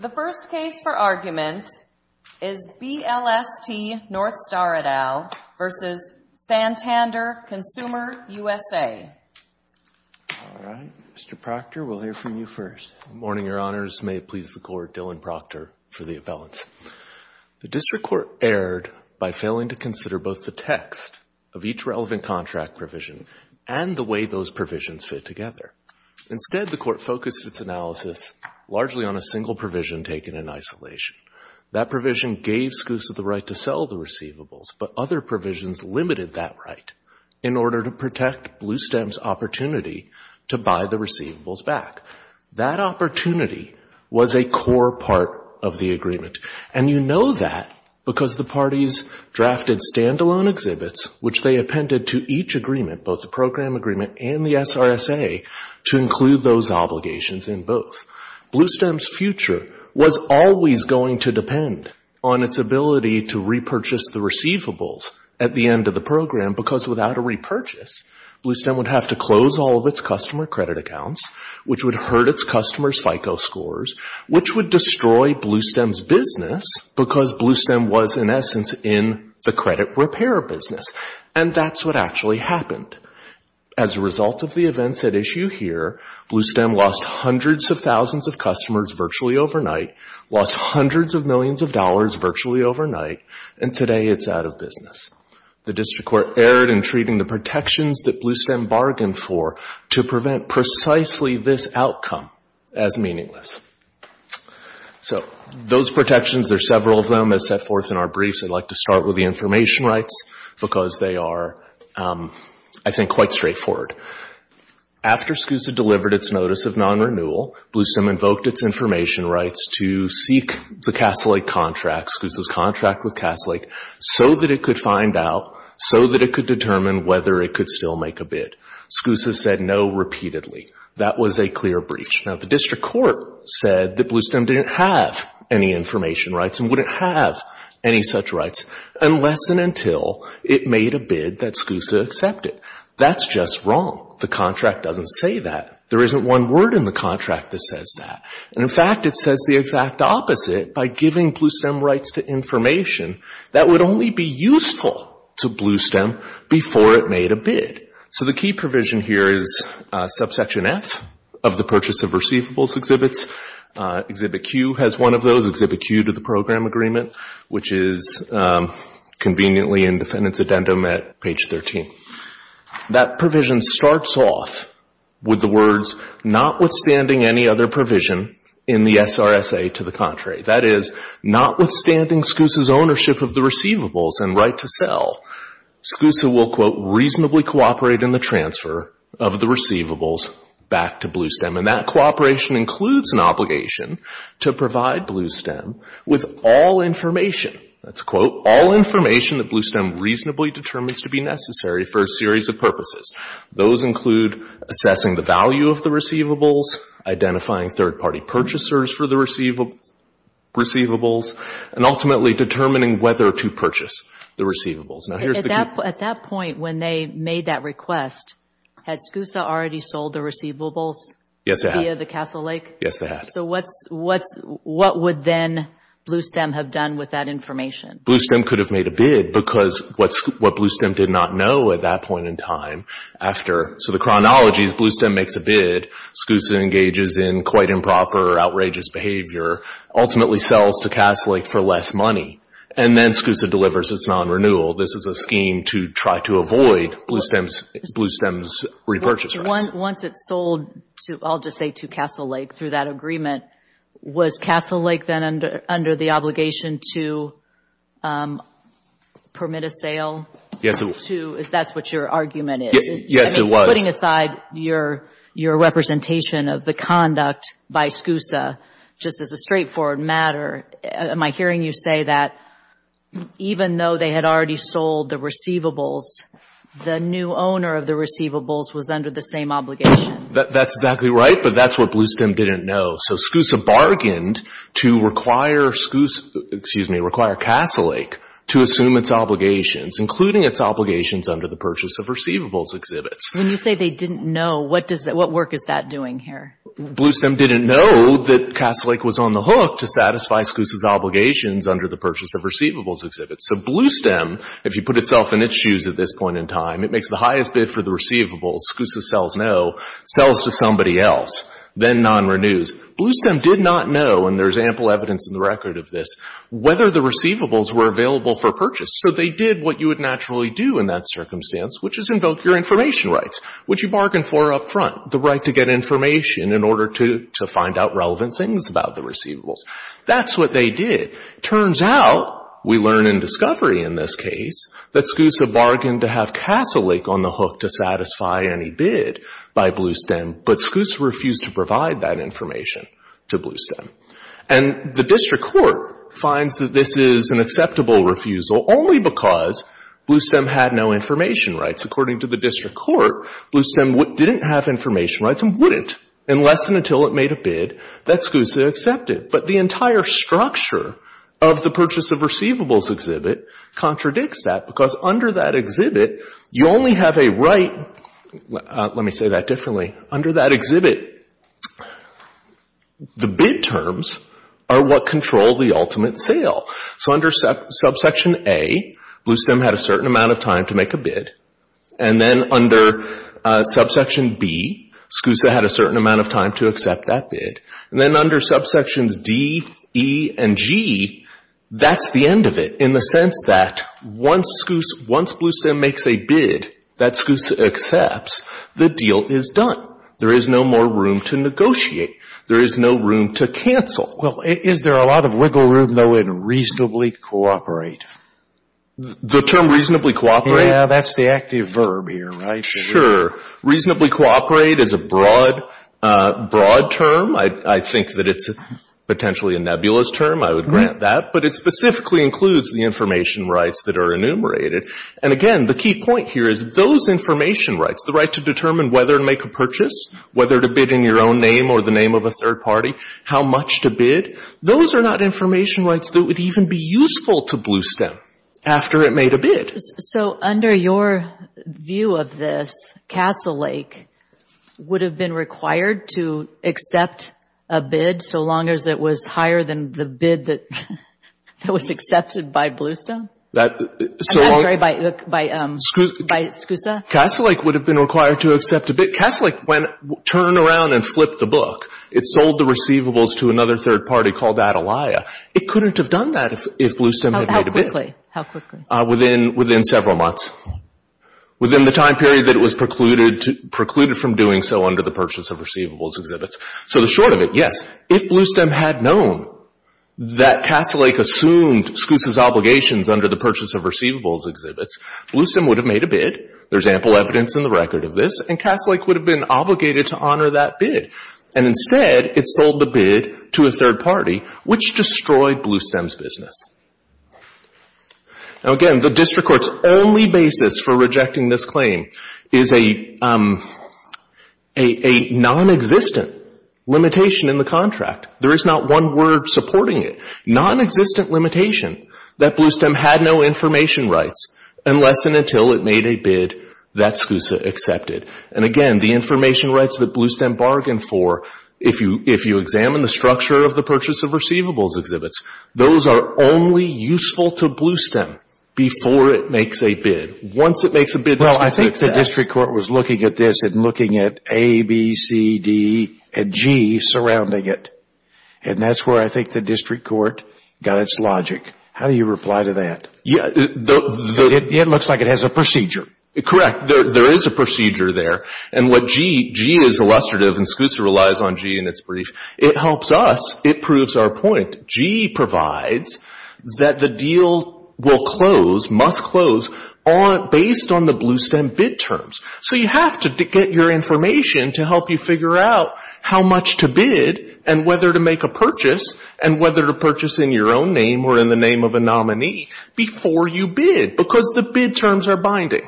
The first case for argument is BLST Northstar et al. versus Santander Consumer USA. Mr. Proctor, we'll hear from you first. Morning, your honors. May it please the court, Dylan Proctor for the appellants. The district court erred by failing to consider both the text of each relevant contract provision and the way those provisions fit together. Instead, the court focused its analysis largely on a single provision taken in isolation. That provision gave Scoots the right to sell the receivables, but other provisions limited that right in order to protect Bluestem's opportunity to buy the receivables back. That opportunity was a core part of the agreement. And you know that because the parties drafted standalone exhibits, which they appended to each agreement, both the program agreement and the SRSA, to include those obligations in both. Bluestem's future was always going to depend on its ability to repurchase the receivables at the end of the program because without a repurchase, Bluestem would have to close all of its customer credit accounts, which would hurt its customer FICO scores, which would destroy Bluestem's business because Bluestem was, in essence, in the credit repair business. And that's what actually happened. As a result of the events at issue here, Bluestem lost hundreds of thousands of customers virtually overnight, lost hundreds of millions of dollars virtually overnight, and today it's out of business. The district court erred in treating the protections that Bluestem bargained for to prevent precisely this outcome as meaningless. So those protections, there are several of them as set forth in our briefs. I'd like to start with the information rights because they are, I think, quite straightforward. After SCUSA delivered its notice of non-renewal, Bluestem invoked its information rights to seek the Castle Lake contract, SCUSA's contract with Castle Lake, so that it could find out, so that it could determine whether it could still make a bid. SCUSA said no repeatedly. That was a clear breach. Now, the district court said that Bluestem didn't have any information rights and wouldn't have any such rights unless and until it made a bid that SCUSA accepted. That's just wrong. The contract doesn't say that. There isn't one word in the contract that says that. And in fact, it says the exact opposite by giving Bluestem rights to information that would only be useful to Bluestem before it made a bid. So the key provision here is subsection F of the purchase of receivables exhibits. Exhibit Q has one of those, exhibit Q to the program agreement, which is conveniently in defendant's addendum at page 13. That provision starts off with the words, notwithstanding any other provision in the SRSA to the contrary. That is, notwithstanding SCUSA's ownership of the receivables and right to sell, SCUSA will, quote, reasonably cooperate in the transfer of the receivables back to Bluestem. And that cooperation includes an obligation to provide Bluestem with all information, that's a quote, all information that Bluestem reasonably determines to be necessary for a series of purposes. Those include assessing the value of the receivables, identifying third-party purchasers for the receivables, and ultimately determining whether to purchase the receivables. Now here's the key. At that point when they made that request, had SCUSA already sold the receivables? Yes, they had. Via the Castle Lake? Yes, they had. So what would then Bluestem have done with that information? Bluestem could have made a bid because what Bluestem did not know at that point in time after, so the chronology is Bluestem makes a bid, SCUSA engages in quite improper, outrageous behavior, ultimately sells to Castle Lake for less money, and then SCUSA delivers its non-renewal. This is a scheme to try to avoid Bluestem's repurchase rates. Once it's sold, I'll just say to Castle Lake through that agreement, was Castle Lake then under the obligation to permit a sale? Yes, it was. That's what your argument is. Yes, it was. Putting aside your representation of the conduct by SCUSA, just as a straightforward matter, am I hearing you say that even though they had already sold the receivables, the new owner of the receivables was under the same obligation? That's exactly right, but that's what Bluestem didn't know. So SCUSA bargained to require Castle Lake to assume its obligations, including its obligations under the purchase of receivables exhibits. When you say they didn't know, what work is that doing here? Bluestem didn't know that Castle Lake was on the hook to satisfy SCUSA's obligations under the purchase of receivables exhibits. So Bluestem, if you put itself in its shoes at this point in time, it makes the highest bid for the receivables. SCUSA sells no, sells to somebody else, then non-renews. Bluestem did not know, and there's ample evidence in the record of this, whether the receivables were available for purchase. So they did what you would naturally do in that circumstance, which is invoke your information rights, which you bargained for up front, the right to get information in order to find out relevant things about the receivables. That's what they did. Turns out, we learn in discovery in this case, that SCUSA bargained to have Castle Lake on the hook to satisfy any bid by Bluestem, but SCUSA refused to provide that information to Bluestem. And the district court finds that this is an acceptable refusal only because Bluestem had no information rights. According to the district court, Bluestem didn't have information rights, and wouldn't unless and until it made a bid that SCUSA accepted. But the entire structure of the purchase of receivables exhibit contradicts that because under that exhibit, you only have a right, let me say that differently, under that exhibit, the bid terms are what control the ultimate sale. So under subsection A, Bluestem had a certain amount of time to make a bid. And then under subsection B, SCUSA had a certain amount of time to accept that bid. And then under subsections D, E, and G, that's the end of it in the sense that once Bluestem makes a bid that SCUSA accepts, the deal is done. There is no more room to negotiate. There is no room to cancel. Well, is there a lot of wiggle room, though, in reasonably cooperate? The term reasonably cooperate? Yeah, that's the active verb here, right? Sure. Reasonably cooperate is a broad term. I think that it's potentially a nebulous term. I would grant that. But it specifically includes the information rights that are enumerated. And again, the key point here is those information rights, the right to determine whether to make a purchase, whether to bid in your own name or the name of a third party, how much to bid, those are not information rights that would even be useful to Bluestem after it made a bid. So under your view of this, Castle Lake would have been required to accept a bid so long as it was higher than the bid that was accepted by Bluestem? I'm sorry, by SCUSA? Castle Lake would have been required to accept a bid. Castle Lake went, turned around and flipped the book. It sold the receivables to another third party called Adelia. It couldn't have done that if Bluestem had made a bid. How quickly? Within several months. Within the time period that it was precluded from doing so under the purchase of receivables exhibits. So the short of it, yes, if Bluestem had known that Castle Lake assumed SCUSA's obligations under the purchase of receivables exhibits, Bluestem would have made a bid. There's ample evidence in the record of this and Castle Lake would have been obligated to honor that bid. And instead, it sold the bid to a third party which destroyed Bluestem's business. Now again, the district court's only basis for rejecting this claim is a non-existent limitation in the contract. There is not one word supporting it. A non-existent limitation that Bluestem had no information rights unless and until it made a bid that SCUSA accepted. And again, the information rights that Bluestem bargained for if you examine the structure of the purchase of receivables exhibits, those are only useful to Bluestem before it makes a bid. Once it makes a bid, Well, I think the district court was looking at this and looking at A, B, C, D, and G surrounding it. And that's where I think the district court got its logic. How do you reply to that? Yeah, it looks like it has a procedure. Correct, there is a procedure there. And what G, G is illustrative and SCUSA relies on G in its brief. It helps us, it proves our point. G provides that the deal will close, must close based on the Bluestem bid terms. So you have to get your information to help you figure out how much to bid and whether to make a purchase and whether to purchase in your own name or in the name of a nominee before you bid because the bid terms are binding.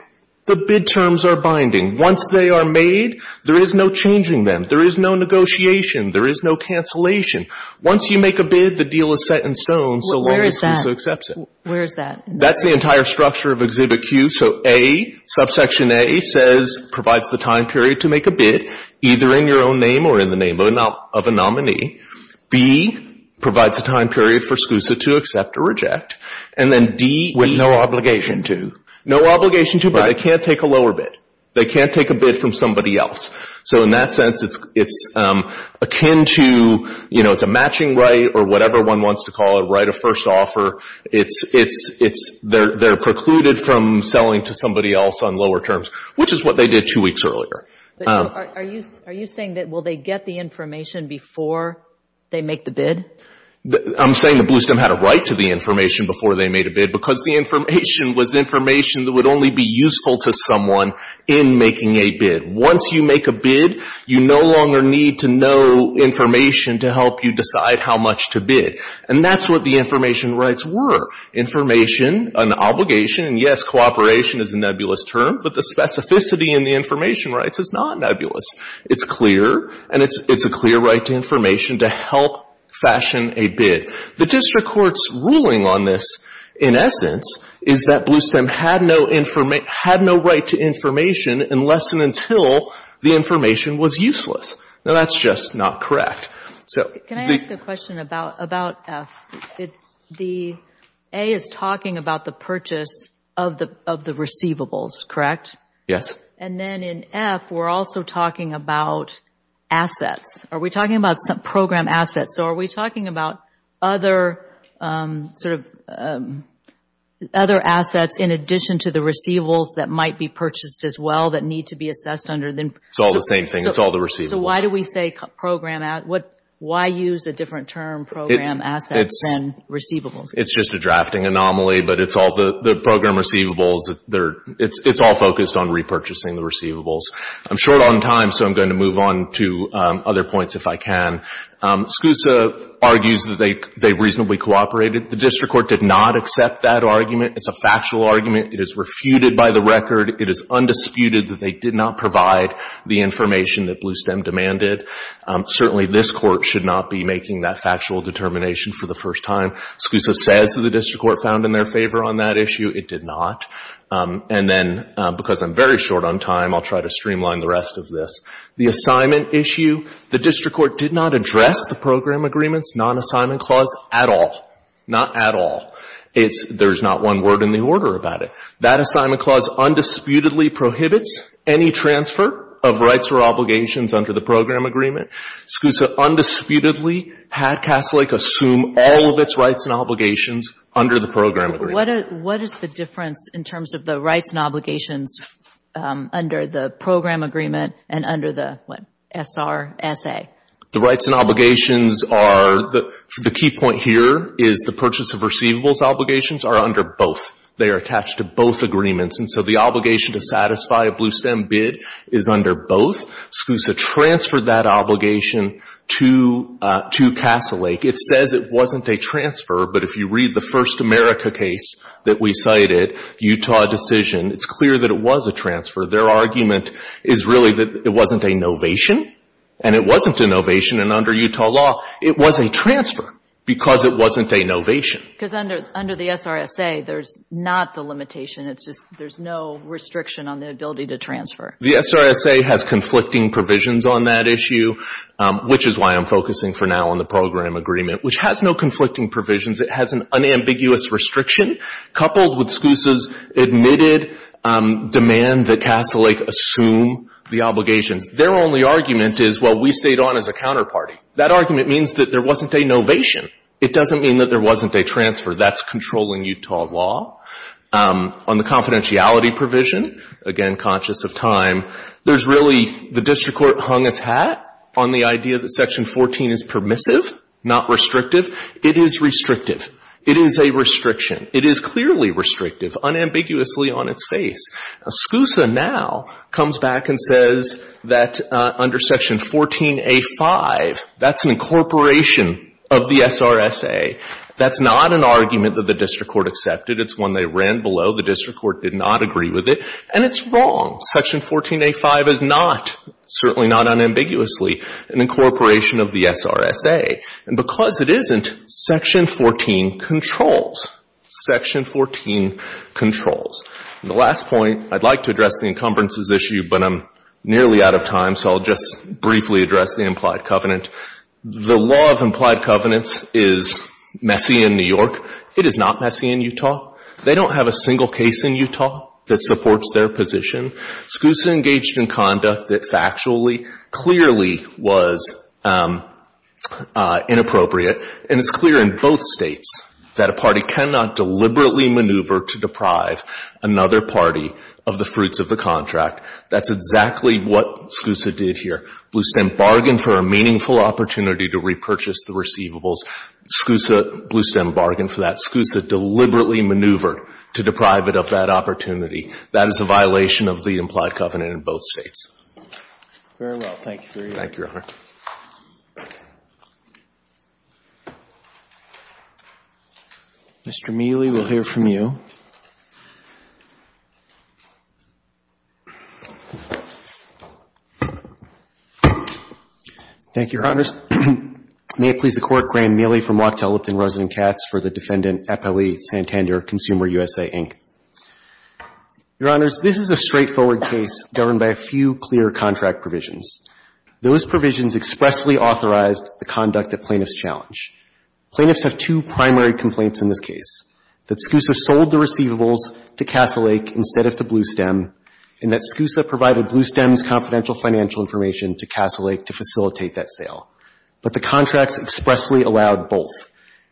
The bid terms are binding. Once they are made, there is no changing them. There is no negotiation. There is no cancellation. Once you make a bid, the deal is set in stone so long as SCUSA accepts it. Where is that? That's the entire structure of Exhibit Q. So A, subsection A says, provides the time period to make a bid either in your own name or in the name of a nominee. B, provides a time period for SCUSA to accept or reject. And then D, E. With no obligation to. No obligation to, but they can't take a lower bid. They can't take a bid from somebody else. So in that sense, it's akin to, you know, it's a matching right or whatever one wants to call it, right of first offer. It's, they're precluded from selling to somebody else on lower terms, which is what they did two weeks earlier. Are you saying that, will they get the information before they make the bid? I'm saying that Bluestem had a right to the information before they made a bid because the information was information that would only be useful to someone in making a bid. Once you make a bid, you no longer need to know information to help you decide how much to bid. And that's what the information rights were. Information, an obligation, and yes, cooperation is a nebulous term, but the specificity in the information rights is not nebulous. It's clear, and it's a clear right to information to help fashion a bid. The district court's ruling on this, in essence, is that Bluestem had no right to information unless and until the information was useless. Now, that's just not correct. So the- Can I ask a question about F? The A is talking about the purchase of the receivables, correct? Yes. And then in F, we're also talking about assets. Are we talking about program assets? So are we talking about other sort of, other assets in addition to the receivables that might be purchased as well that need to be assessed under the- It's all the same thing. It's all the receivables. So why do we say program, why use a different term, program assets, than receivables? It's just a drafting anomaly, but it's all the program receivables. It's all focused on repurchasing the receivables. I'm short on time, so I'm going to move on to other points if I can. Scusa argues that they reasonably cooperated. The district court did not accept that argument. It's a factual argument. It is refuted by the record. It is undisputed that they did not provide the information that Bluestem demanded. Certainly, this court should not be making that factual determination for the first time. Scusa says that the district court found in their favor on that issue. It did not. And then, because I'm very short on time, I'll try to streamline the rest of this. The assignment issue, the district court did not address the program agreements, non-assignment clause, at all. Not at all. There's not one word in the order about it. That assignment clause undisputedly prohibits any transfer of rights or obligations under the program agreement. Scusa undisputedly had Castle Lake assume all of its rights and obligations under the program agreement. What is the difference in terms of the rights and obligations under the program agreement and under the SRSA? The rights and obligations are, the key point here is the purchase of receivables obligations are under both. They are attached to both agreements. And so, the obligation to satisfy a Bluestem bid is under both. Scusa transferred that obligation to Castle Lake. It says it wasn't a transfer, but if you read the First America case that we cited, Utah decision, it's clear that it was a transfer. Their argument is really that it wasn't a novation, and it wasn't a novation, and under Utah law, it was a transfer, because it wasn't a novation. Because under the SRSA, there's not the limitation. It's just, there's no restriction on the ability to transfer. The SRSA has conflicting provisions on that issue, which is why I'm focusing for now on the program agreement, which has no conflicting provisions. It has an unambiguous restriction coupled with Scusa's admitted demand that Castle Lake assume the obligations. Their only argument is, well, we stayed on as a counterparty. That argument means that there wasn't a novation. It doesn't mean that there wasn't a transfer. That's controlling Utah law. On the confidentiality provision, again, conscious of time, there's really, the district court hung its hat on the idea that section 14 is permissive, not restrictive. It is restrictive. It is a restriction. It is clearly restrictive, unambiguously on its face. Now, Scusa now comes back and says that under section 14A5, that's an incorporation of the SRSA. That's not an argument that the district court accepted. It's one they ran below. The district court did not agree with it, and it's wrong. Section 14A5 is not, certainly not unambiguously, an incorporation of the SRSA. And because it isn't, section 14 controls. Section 14 controls. The last point, I'd like to address the encumbrances issue, but I'm nearly out of time, so I'll just briefly address the implied covenant. The law of implied covenants is messy in New York. It is not messy in Utah. They don't have a single case in Utah that supports their position. Scusa engaged in conduct that factually, clearly was inappropriate, and it's clear in both states that a party cannot deliberately maneuver to deprive another party of the fruits of the contract. That's exactly what Scusa did here. Bluestem bargained for a meaningful opportunity to repurchase the receivables. Scusa, Bluestem bargained for that. Scusa deliberately maneuvered to deprive it of that opportunity. That is a violation of the implied covenant in both states. Very well. Thank you, Your Honor. Thank you, Your Honor. Mr. Mealy, we'll hear from you. Thank you, Your Honors. May it please the Court, Graeme Mealy from Wachtell Lipton, resident of Katz, for the defendant, Epeli Santander, ConsumerUSA, Inc. Your Honors, this is a straightforward case governed by a few clear contract provisions. Those provisions expressly authorized the conduct that plaintiffs challenge. Plaintiffs have two primary complaints in this case, that Scusa sold the receivables to Castle Lake instead of to Bluestem, and that Scusa provided Bluestem's confidential financial information to Castle Lake to facilitate that sale. But the contracts expressly allowed both.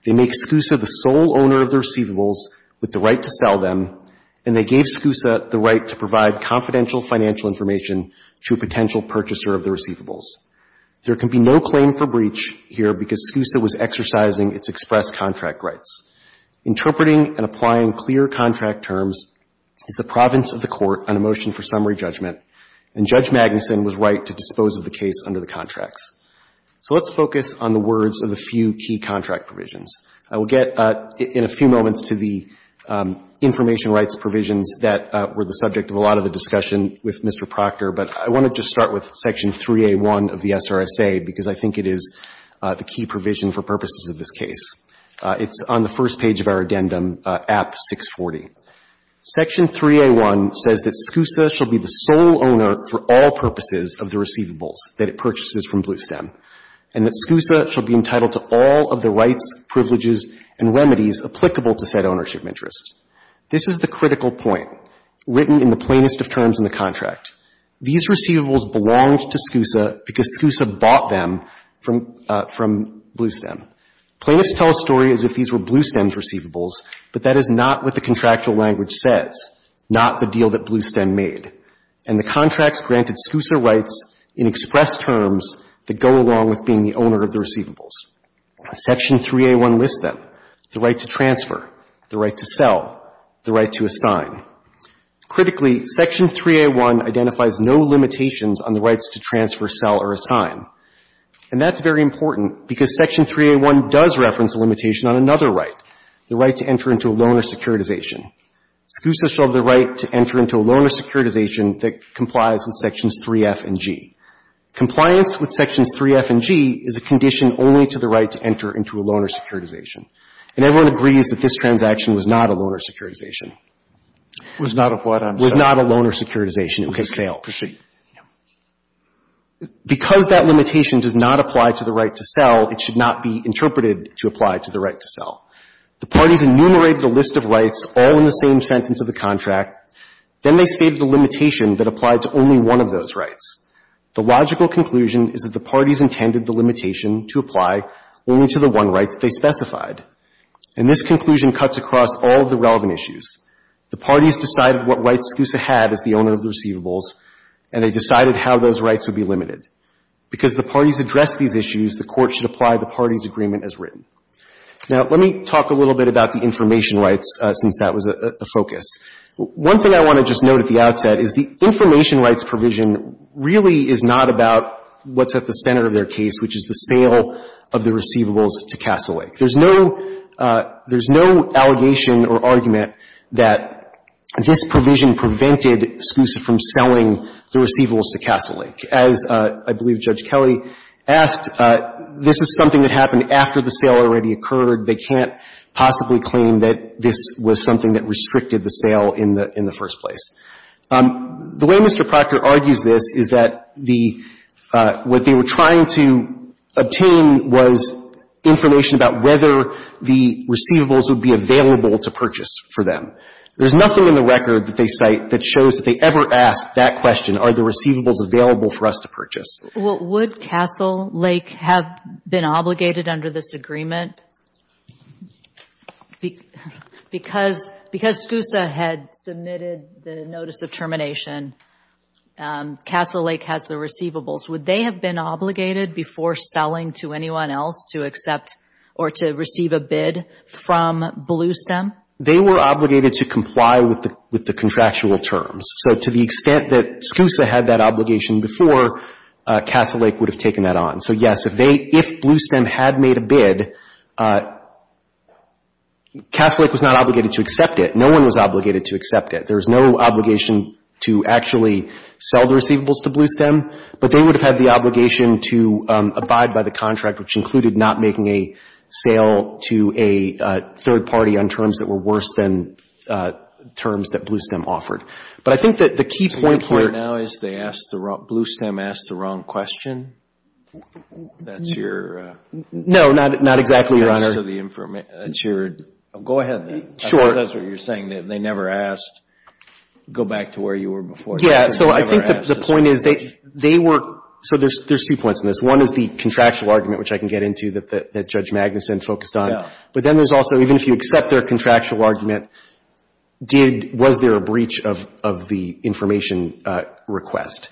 They make Scusa the sole owner of the receivables with the right to sell them, and they gave Scusa the right to provide confidential financial information to a potential purchaser of the receivables. There can be no claim for breach here because Scusa was exercising its express contract rights. Interpreting and applying clear contract terms is the province of the Court on a motion for summary judgment, and Judge Magnuson was right to dispose of the case under the contracts. So let's focus on the words of a few key contract provisions. I will get in a few moments to the information rights provisions that were the subject of a lot of the discussion with Mr. Proctor, but I wanted to start with Section 3A1 of the SRSA because I think it is the key provision for purposes of this case. It's on the first page of our addendum, App 640. Section 3A1 says that Scusa shall be the sole owner for all purposes of the receivables that it purchases from Bluestem, and that Scusa shall be entitled to all of the rights, privileges, and remedies applicable to said ownership interests. This is the critical point written in the plainest of terms in the contract. These receivables belonged to Scusa because Scusa bought them from Bluestem. Plaintiffs tell a story as if these were Bluestem's receivables, but that is not what the contractual language says, not the deal that Bluestem made. And the contracts granted Scusa rights in expressed terms that go along with being the owner of the receivables. Section 3A1 lists them, the right to transfer, the right to sell, the right to assign. Critically, Section 3A1 identifies no limitations on the rights to transfer, sell, or assign. And that's very important because Section 3A1 does reference a limitation on another right, the right to enter into a loan or securitization. Scusa shall have the right to enter into a loan or securitization that complies with Sections 3F and G. Compliance with Sections 3F and G is a condition only to the right to enter into a loan or securitization. And everyone agrees that this transaction was not a loan or securitization. It was not a what, I'm sorry? It was not a loan or securitization. It was a fail. Okay. Appreciate it. Yeah. Because that limitation does not apply to the right to sell, it should not be interpreted to apply to the right to sell. The parties enumerated a list of rights all in the same sentence of the contract. Then they stated the limitation that applied to only one of those rights. The logical conclusion is that the parties intended the limitation to apply only to the one right that they specified. And this conclusion cuts across all of the relevant issues. The parties decided what rights Scusa had as the owner of the receivables, and they decided how those rights would be limited. Because the parties addressed these issues, the Court should apply the parties' agreement as written. Now, let me talk a little bit about the information rights since that was the focus. One thing I want to just note at the outset is the information rights provision really is not about what's at the center of their case, which is the sale of the receivables to Castle Lake. There's no — there's no allegation or argument that this provision prevented Scusa from selling the receivables to Castle Lake. As I believe Judge Kelly asked, this is something that happened after the sale already occurred. They can't possibly claim that this was something that restricted the sale in the first place. The way Mr. Proctor argues this is that the — what they were trying to obtain was information about whether the receivables would be available to purchase for them. There's nothing in the record that they cite that shows that they ever asked that question, are the receivables available for us to purchase. Well, would Castle Lake have been obligated under this agreement? Because — because Scusa had submitted the notice of termination, Castle Lake has the receivables. Would they have been obligated before selling to anyone else to accept or to receive a bid from Bluestem? They were obligated to comply with the contractual terms. So to the extent that Scusa had that obligation before, Castle Lake would have taken that on. So, yes, if they — if Bluestem had made a bid, Castle Lake was not obligated to accept it. No one was obligated to accept it. There was no obligation to actually sell the receivables to Bluestem, but they would have had the obligation to abide by the contract, which included not making a sale to a third party on terms that were worse than terms that Bluestem offered. But I think that the key point here — The point here now is they asked the — Bluestem asked the wrong question. That's your — No, not exactly, Your Honor. That's your — go ahead. I think that's what you're saying, that they never asked — go back to where you were before. Yeah, so I think that the point is they were — so there's two points in this. One is the contractual argument, which I can get into, that Judge Magnuson focused on. But then there's also, even if you accept their contractual argument, did — was there a breach of the information request?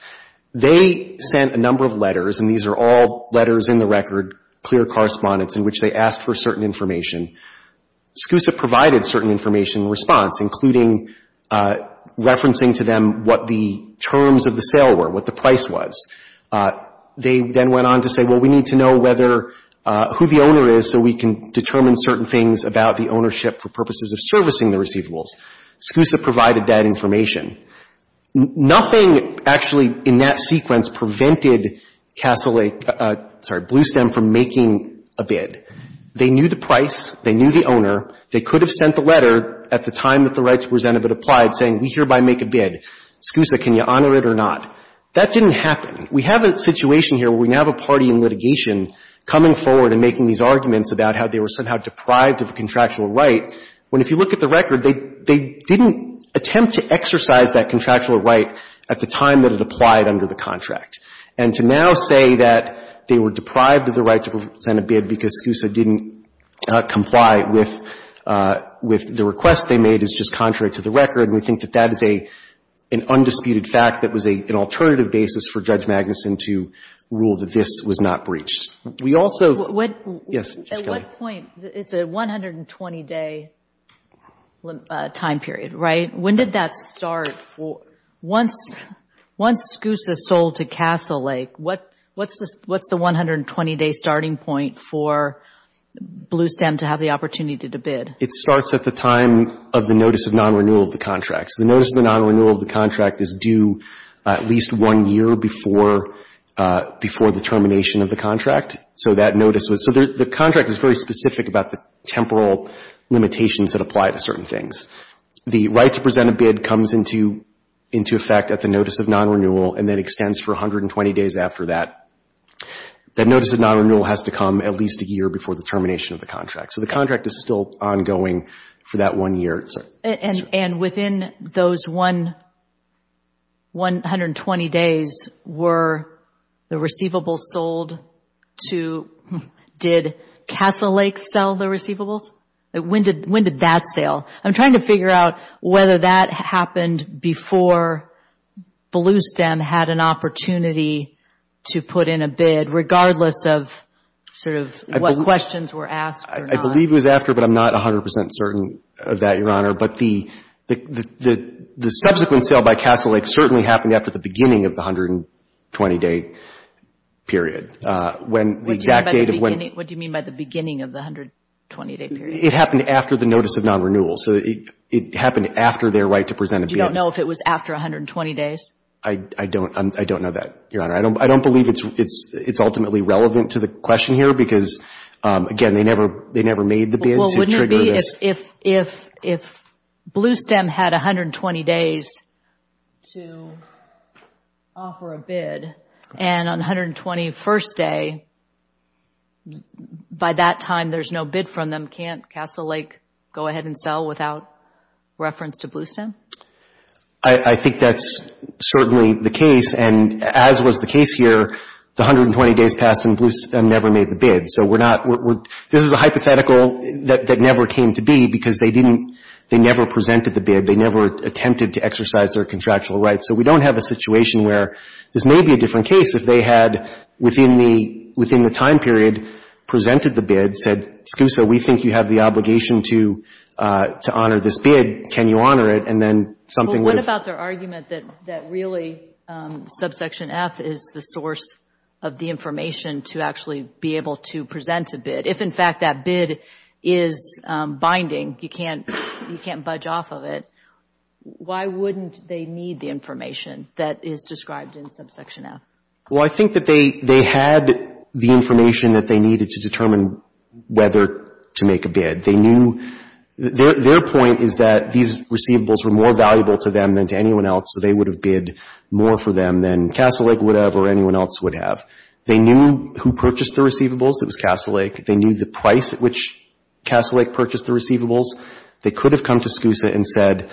They sent a number of letters, and these are all letters in the record, clear correspondence, in which they asked for certain information. SCUSA provided certain information in response, including referencing to them what the terms of the sale were, what the price was. They then went on to say, well, we need to know whether — who the owner is so we can determine certain things about the ownership for purposes of servicing the receivables. SCUSA provided that information. Nothing actually in that sequence prevented Castle Lake — sorry, Bluestem from making a bid. They knew the price. They knew the owner. They could have sent the letter at the time that the rights presented it applied, saying we hereby make a bid. SCUSA, can you honor it or not? That didn't happen. We have a situation here where we now have a party in litigation coming forward and making these arguments about how they were somehow deprived of a contractual right, when if you look at the record, they — they didn't attempt to exercise that contractual right at the time that it applied under the contract. And to now say that they were deprived of the right to send a bid because SCUSA didn't comply with — with the request they made is just contrary to the record. And we think that that is a — an undisputed fact that was an alternative basis for Judge Magnuson to rule that this was not breached. We also — What — Yes, Judge Kelley. At what point — it's a 120-day time period, right? When did that start for — Once — once SCUSA sold to Castle Lake, what — what's the — what's the 120-day starting point for Bluestem to have the opportunity to bid? It starts at the time of the notice of non-renewal of the contract. So the notice of the non-renewal of the contract is due at least one year before — before the termination of the contract. So that notice was — so the contract is very specific about the temporal limitations that apply to certain things. The right to present a bid comes into — into effect at the notice of non-renewal and then extends for 120 days after that. That notice of non-renewal has to come at least a year before the termination of the contract. So the contract is still ongoing for that one year. And — and within those one — 120 days, were the receivables sold to — did Castle Lake sell the receivables? When did — when did that sell? I'm trying to figure out whether that happened before Bluestem had an opportunity to put in a bid, regardless of sort of what questions were asked or not. I believe it was after, but I'm not 100 percent certain of that, Your Honor. But the — the subsequent sale by Castle Lake certainly happened after the beginning of the 120-day period. When the exact date of when — What do you mean by the beginning of the 120-day period? It happened after the notice of non-renewal. So it — it happened after their right to present a bid. Do you know if it was after 120 days? I — I don't — I don't know that, Your Honor. I don't — I don't believe it's — it's — it's ultimately relevant to the question here, because, again, they never — they never made the bid to trigger this. Well, wouldn't it be if — if — if Bluestem had 120 days to offer a bid, and on the 121st day, by that time, there's no bid from them, can't Castle Lake go ahead and sell without reference to Bluestem? I — I think that's certainly the case. And as was the case here, the 120 days passed, and Bluestem never made the bid. So we're not — we're — this is a hypothetical that — that never came to be, because they didn't — they never presented the bid. They never attempted to exercise their contractual rights. So we don't have a situation where this may be a different case if they had, within the — within the time period, presented the bid, said, Scusa, we think you have the obligation to — to honor this bid. Can you honor it? And then something would have — But what about their argument that — that really subsection F is the source of the information to actually be able to present a bid? If, in fact, that bid is binding, you can't — you can't budge off of it, why wouldn't they need the information that is described in subsection F? Well, I think that they — they had the information that they needed to determine whether to make a bid. They knew — their — their point is that these receivables were more valuable to them than to anyone else, so they would have bid more for them than Castle Lake would have or anyone else would have. They knew who purchased the receivables. It was Castle Lake. They knew the price at which Castle Lake purchased the receivables. They could have come to Scusa and said,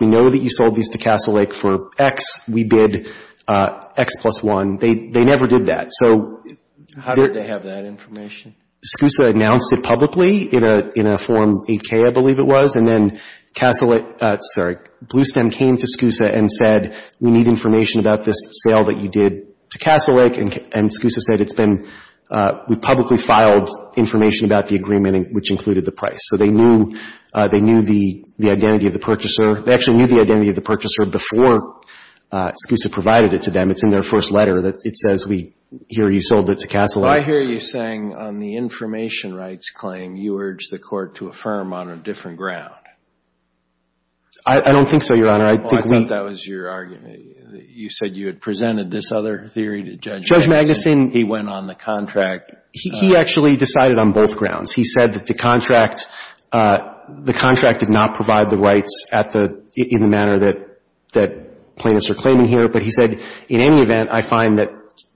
we know that you sold these to Castle Lake for X. We bid X plus one. They — they never did that. So — How did they have that information? Scusa announced it publicly in a — in a form 8K, I believe it was, and then Castle Lake — sorry, Bluestem came to Scusa and said, we need information about this sale that you did to Castle Lake, and Scusa said it's been — we publicly filed information about the agreement which included the price. So they knew — they knew the — the identity of the purchaser. They actually knew the identity of the purchaser before Scusa provided it to them. It's in their first letter. It says, we hear you sold it to Castle Lake. So I hear you saying on the information rights claim, you urged the court to affirm on a different ground. I don't think so, Your Honor. I think we — Well, I thought that was your argument. You said you had presented this other theory to Judge Magnuson. Judge Magnuson — He went on the contract. He actually decided on both grounds. He said that the contract — the contract did not provide the rights at the — in the manner that — that plaintiffs are claiming here. But he said, in any event, I find that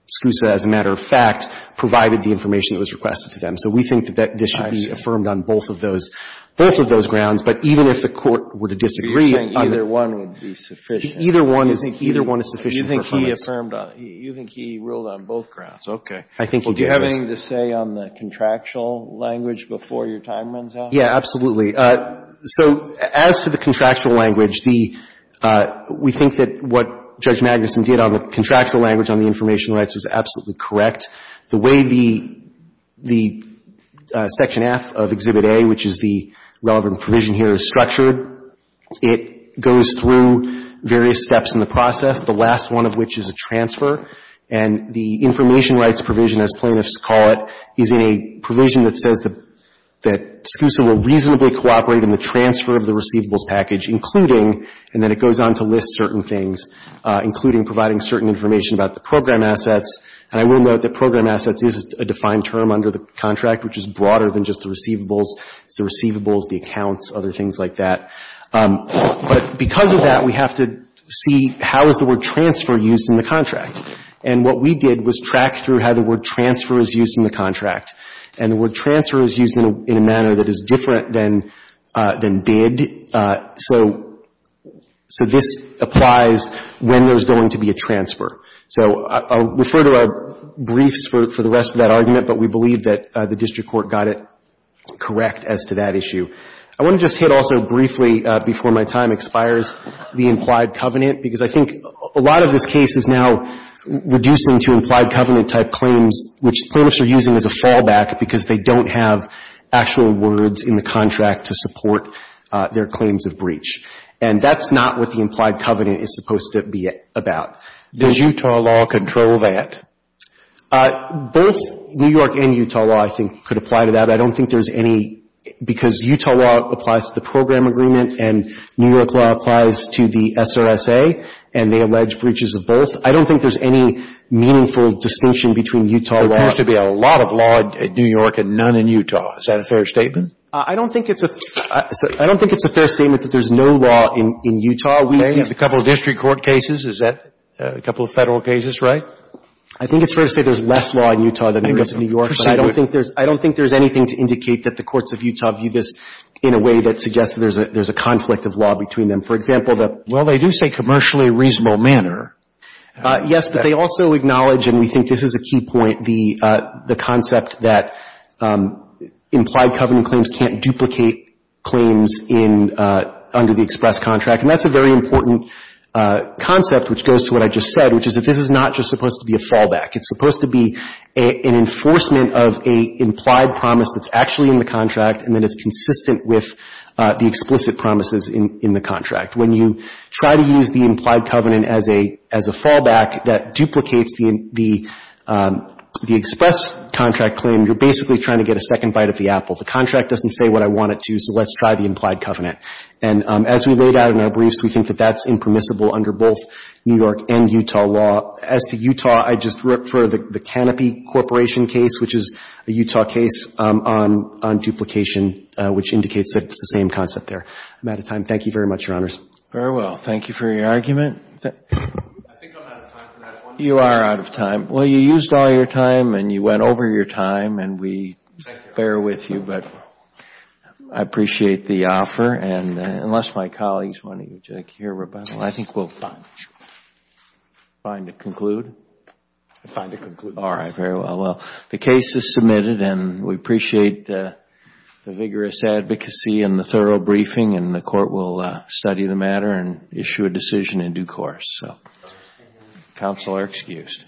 Scusa, as a matter of fact, provided the information that was requested to them. So we think that this should be affirmed on both of those — both of those grounds. But even if the court were to disagree — You're saying either one would be sufficient. Either one is — You think — Either one is sufficient performance. You think he affirmed on — you think he ruled on both grounds. Okay. I think he did, yes. Well, do you have anything to say on the contractual language before your time runs out? Yeah, absolutely. So as to the contractual language, the — we think that what Judge Magnuson did on the contractual language on the information rights was absolutely correct. The way the — the Section F of Exhibit A, which is the relevant provision here, is structured, it goes through various steps in the process, the last one of which is a transfer. And the information rights provision, as plaintiffs call it, is in a provision that says that — that Scusa will reasonably cooperate in the transfer of the receivables package, including — and then it goes on to list certain things, including providing certain information about the program assets. And I will note that program assets is a defined term under the contract, which is broader than just the receivables. It's the receivables, the accounts, other things like that. But because of that, we have to see how is the word transfer used in the contract. And what we did was track through how the word transfer is used in the contract. And the word transfer is used in a manner that is different than — than bid. So — so this applies when there's going to be a transfer. So I'll refer to our briefs for the rest of that argument, but we believe that the district court got it correct as to that issue. I want to just hit also briefly, before my time expires, the implied covenant, because I think a lot of this case is now reducing to implied covenant-type claims, which plaintiffs are using as a fallback because they don't have actual words in the contract to support their claims of breach. And that's not what the implied covenant is supposed to be about. Does Utah law control that? Both New York and Utah law, I think, could apply to that. I don't think there's any — because Utah law applies to the program agreement and New York law applies to the SRSA, and they allege breaches of both. I don't think there's any meaningful distinction between Utah law — There appears to be a lot of law in New York and none in Utah. Is that a fair statement? I don't think it's a — I don't think it's a fair statement that there's no law in Utah. We have a couple of district court cases. Is that — a couple of federal cases, right? I think it's fair to say there's less law in Utah than there is in New York, but I don't think there's — I don't think there's anything to indicate that the courts of Utah view this in a way that suggests that there's a conflict of law between them. For example, the — Well, they do say commercially reasonable manner. Yes, but they also acknowledge — and we think this is a key point — the concept that implied covenant claims can't duplicate claims in — under the express contract. And that's a very important concept, which goes to what I just said, which is that this is not just supposed to be a fallback. It's supposed to be an enforcement of a implied promise that's actually in the contract and that it's consistent with the explicit promises in the contract. When you try to use the implied covenant as a fallback that duplicates the express contract claim, you're basically trying to get a second bite of the apple. The contract doesn't say what I want it to, so let's try the implied covenant. And as we laid out in our briefs, we think that that's impermissible under both New York and Utah law. As to Utah, I just refer the Canopy Corporation case, which is a Utah case on duplication, which indicates that it's the same concept there. I'm out of time. Thank you very much, Your Honors. Very well. Thank you for your argument. I think I'm out of time for that one. You are out of time. Well, you used all your time, and you went over your time, and we bear with you. But I appreciate the offer. And unless my colleagues want to hear rebuttal, I think we'll find a conclude. I find a conclude. All right, very well. Well, the case is submitted, and we appreciate the vigorous advocacy and the thorough briefing, and the court will study the matter and issue a decision in due course. So counsel are excused.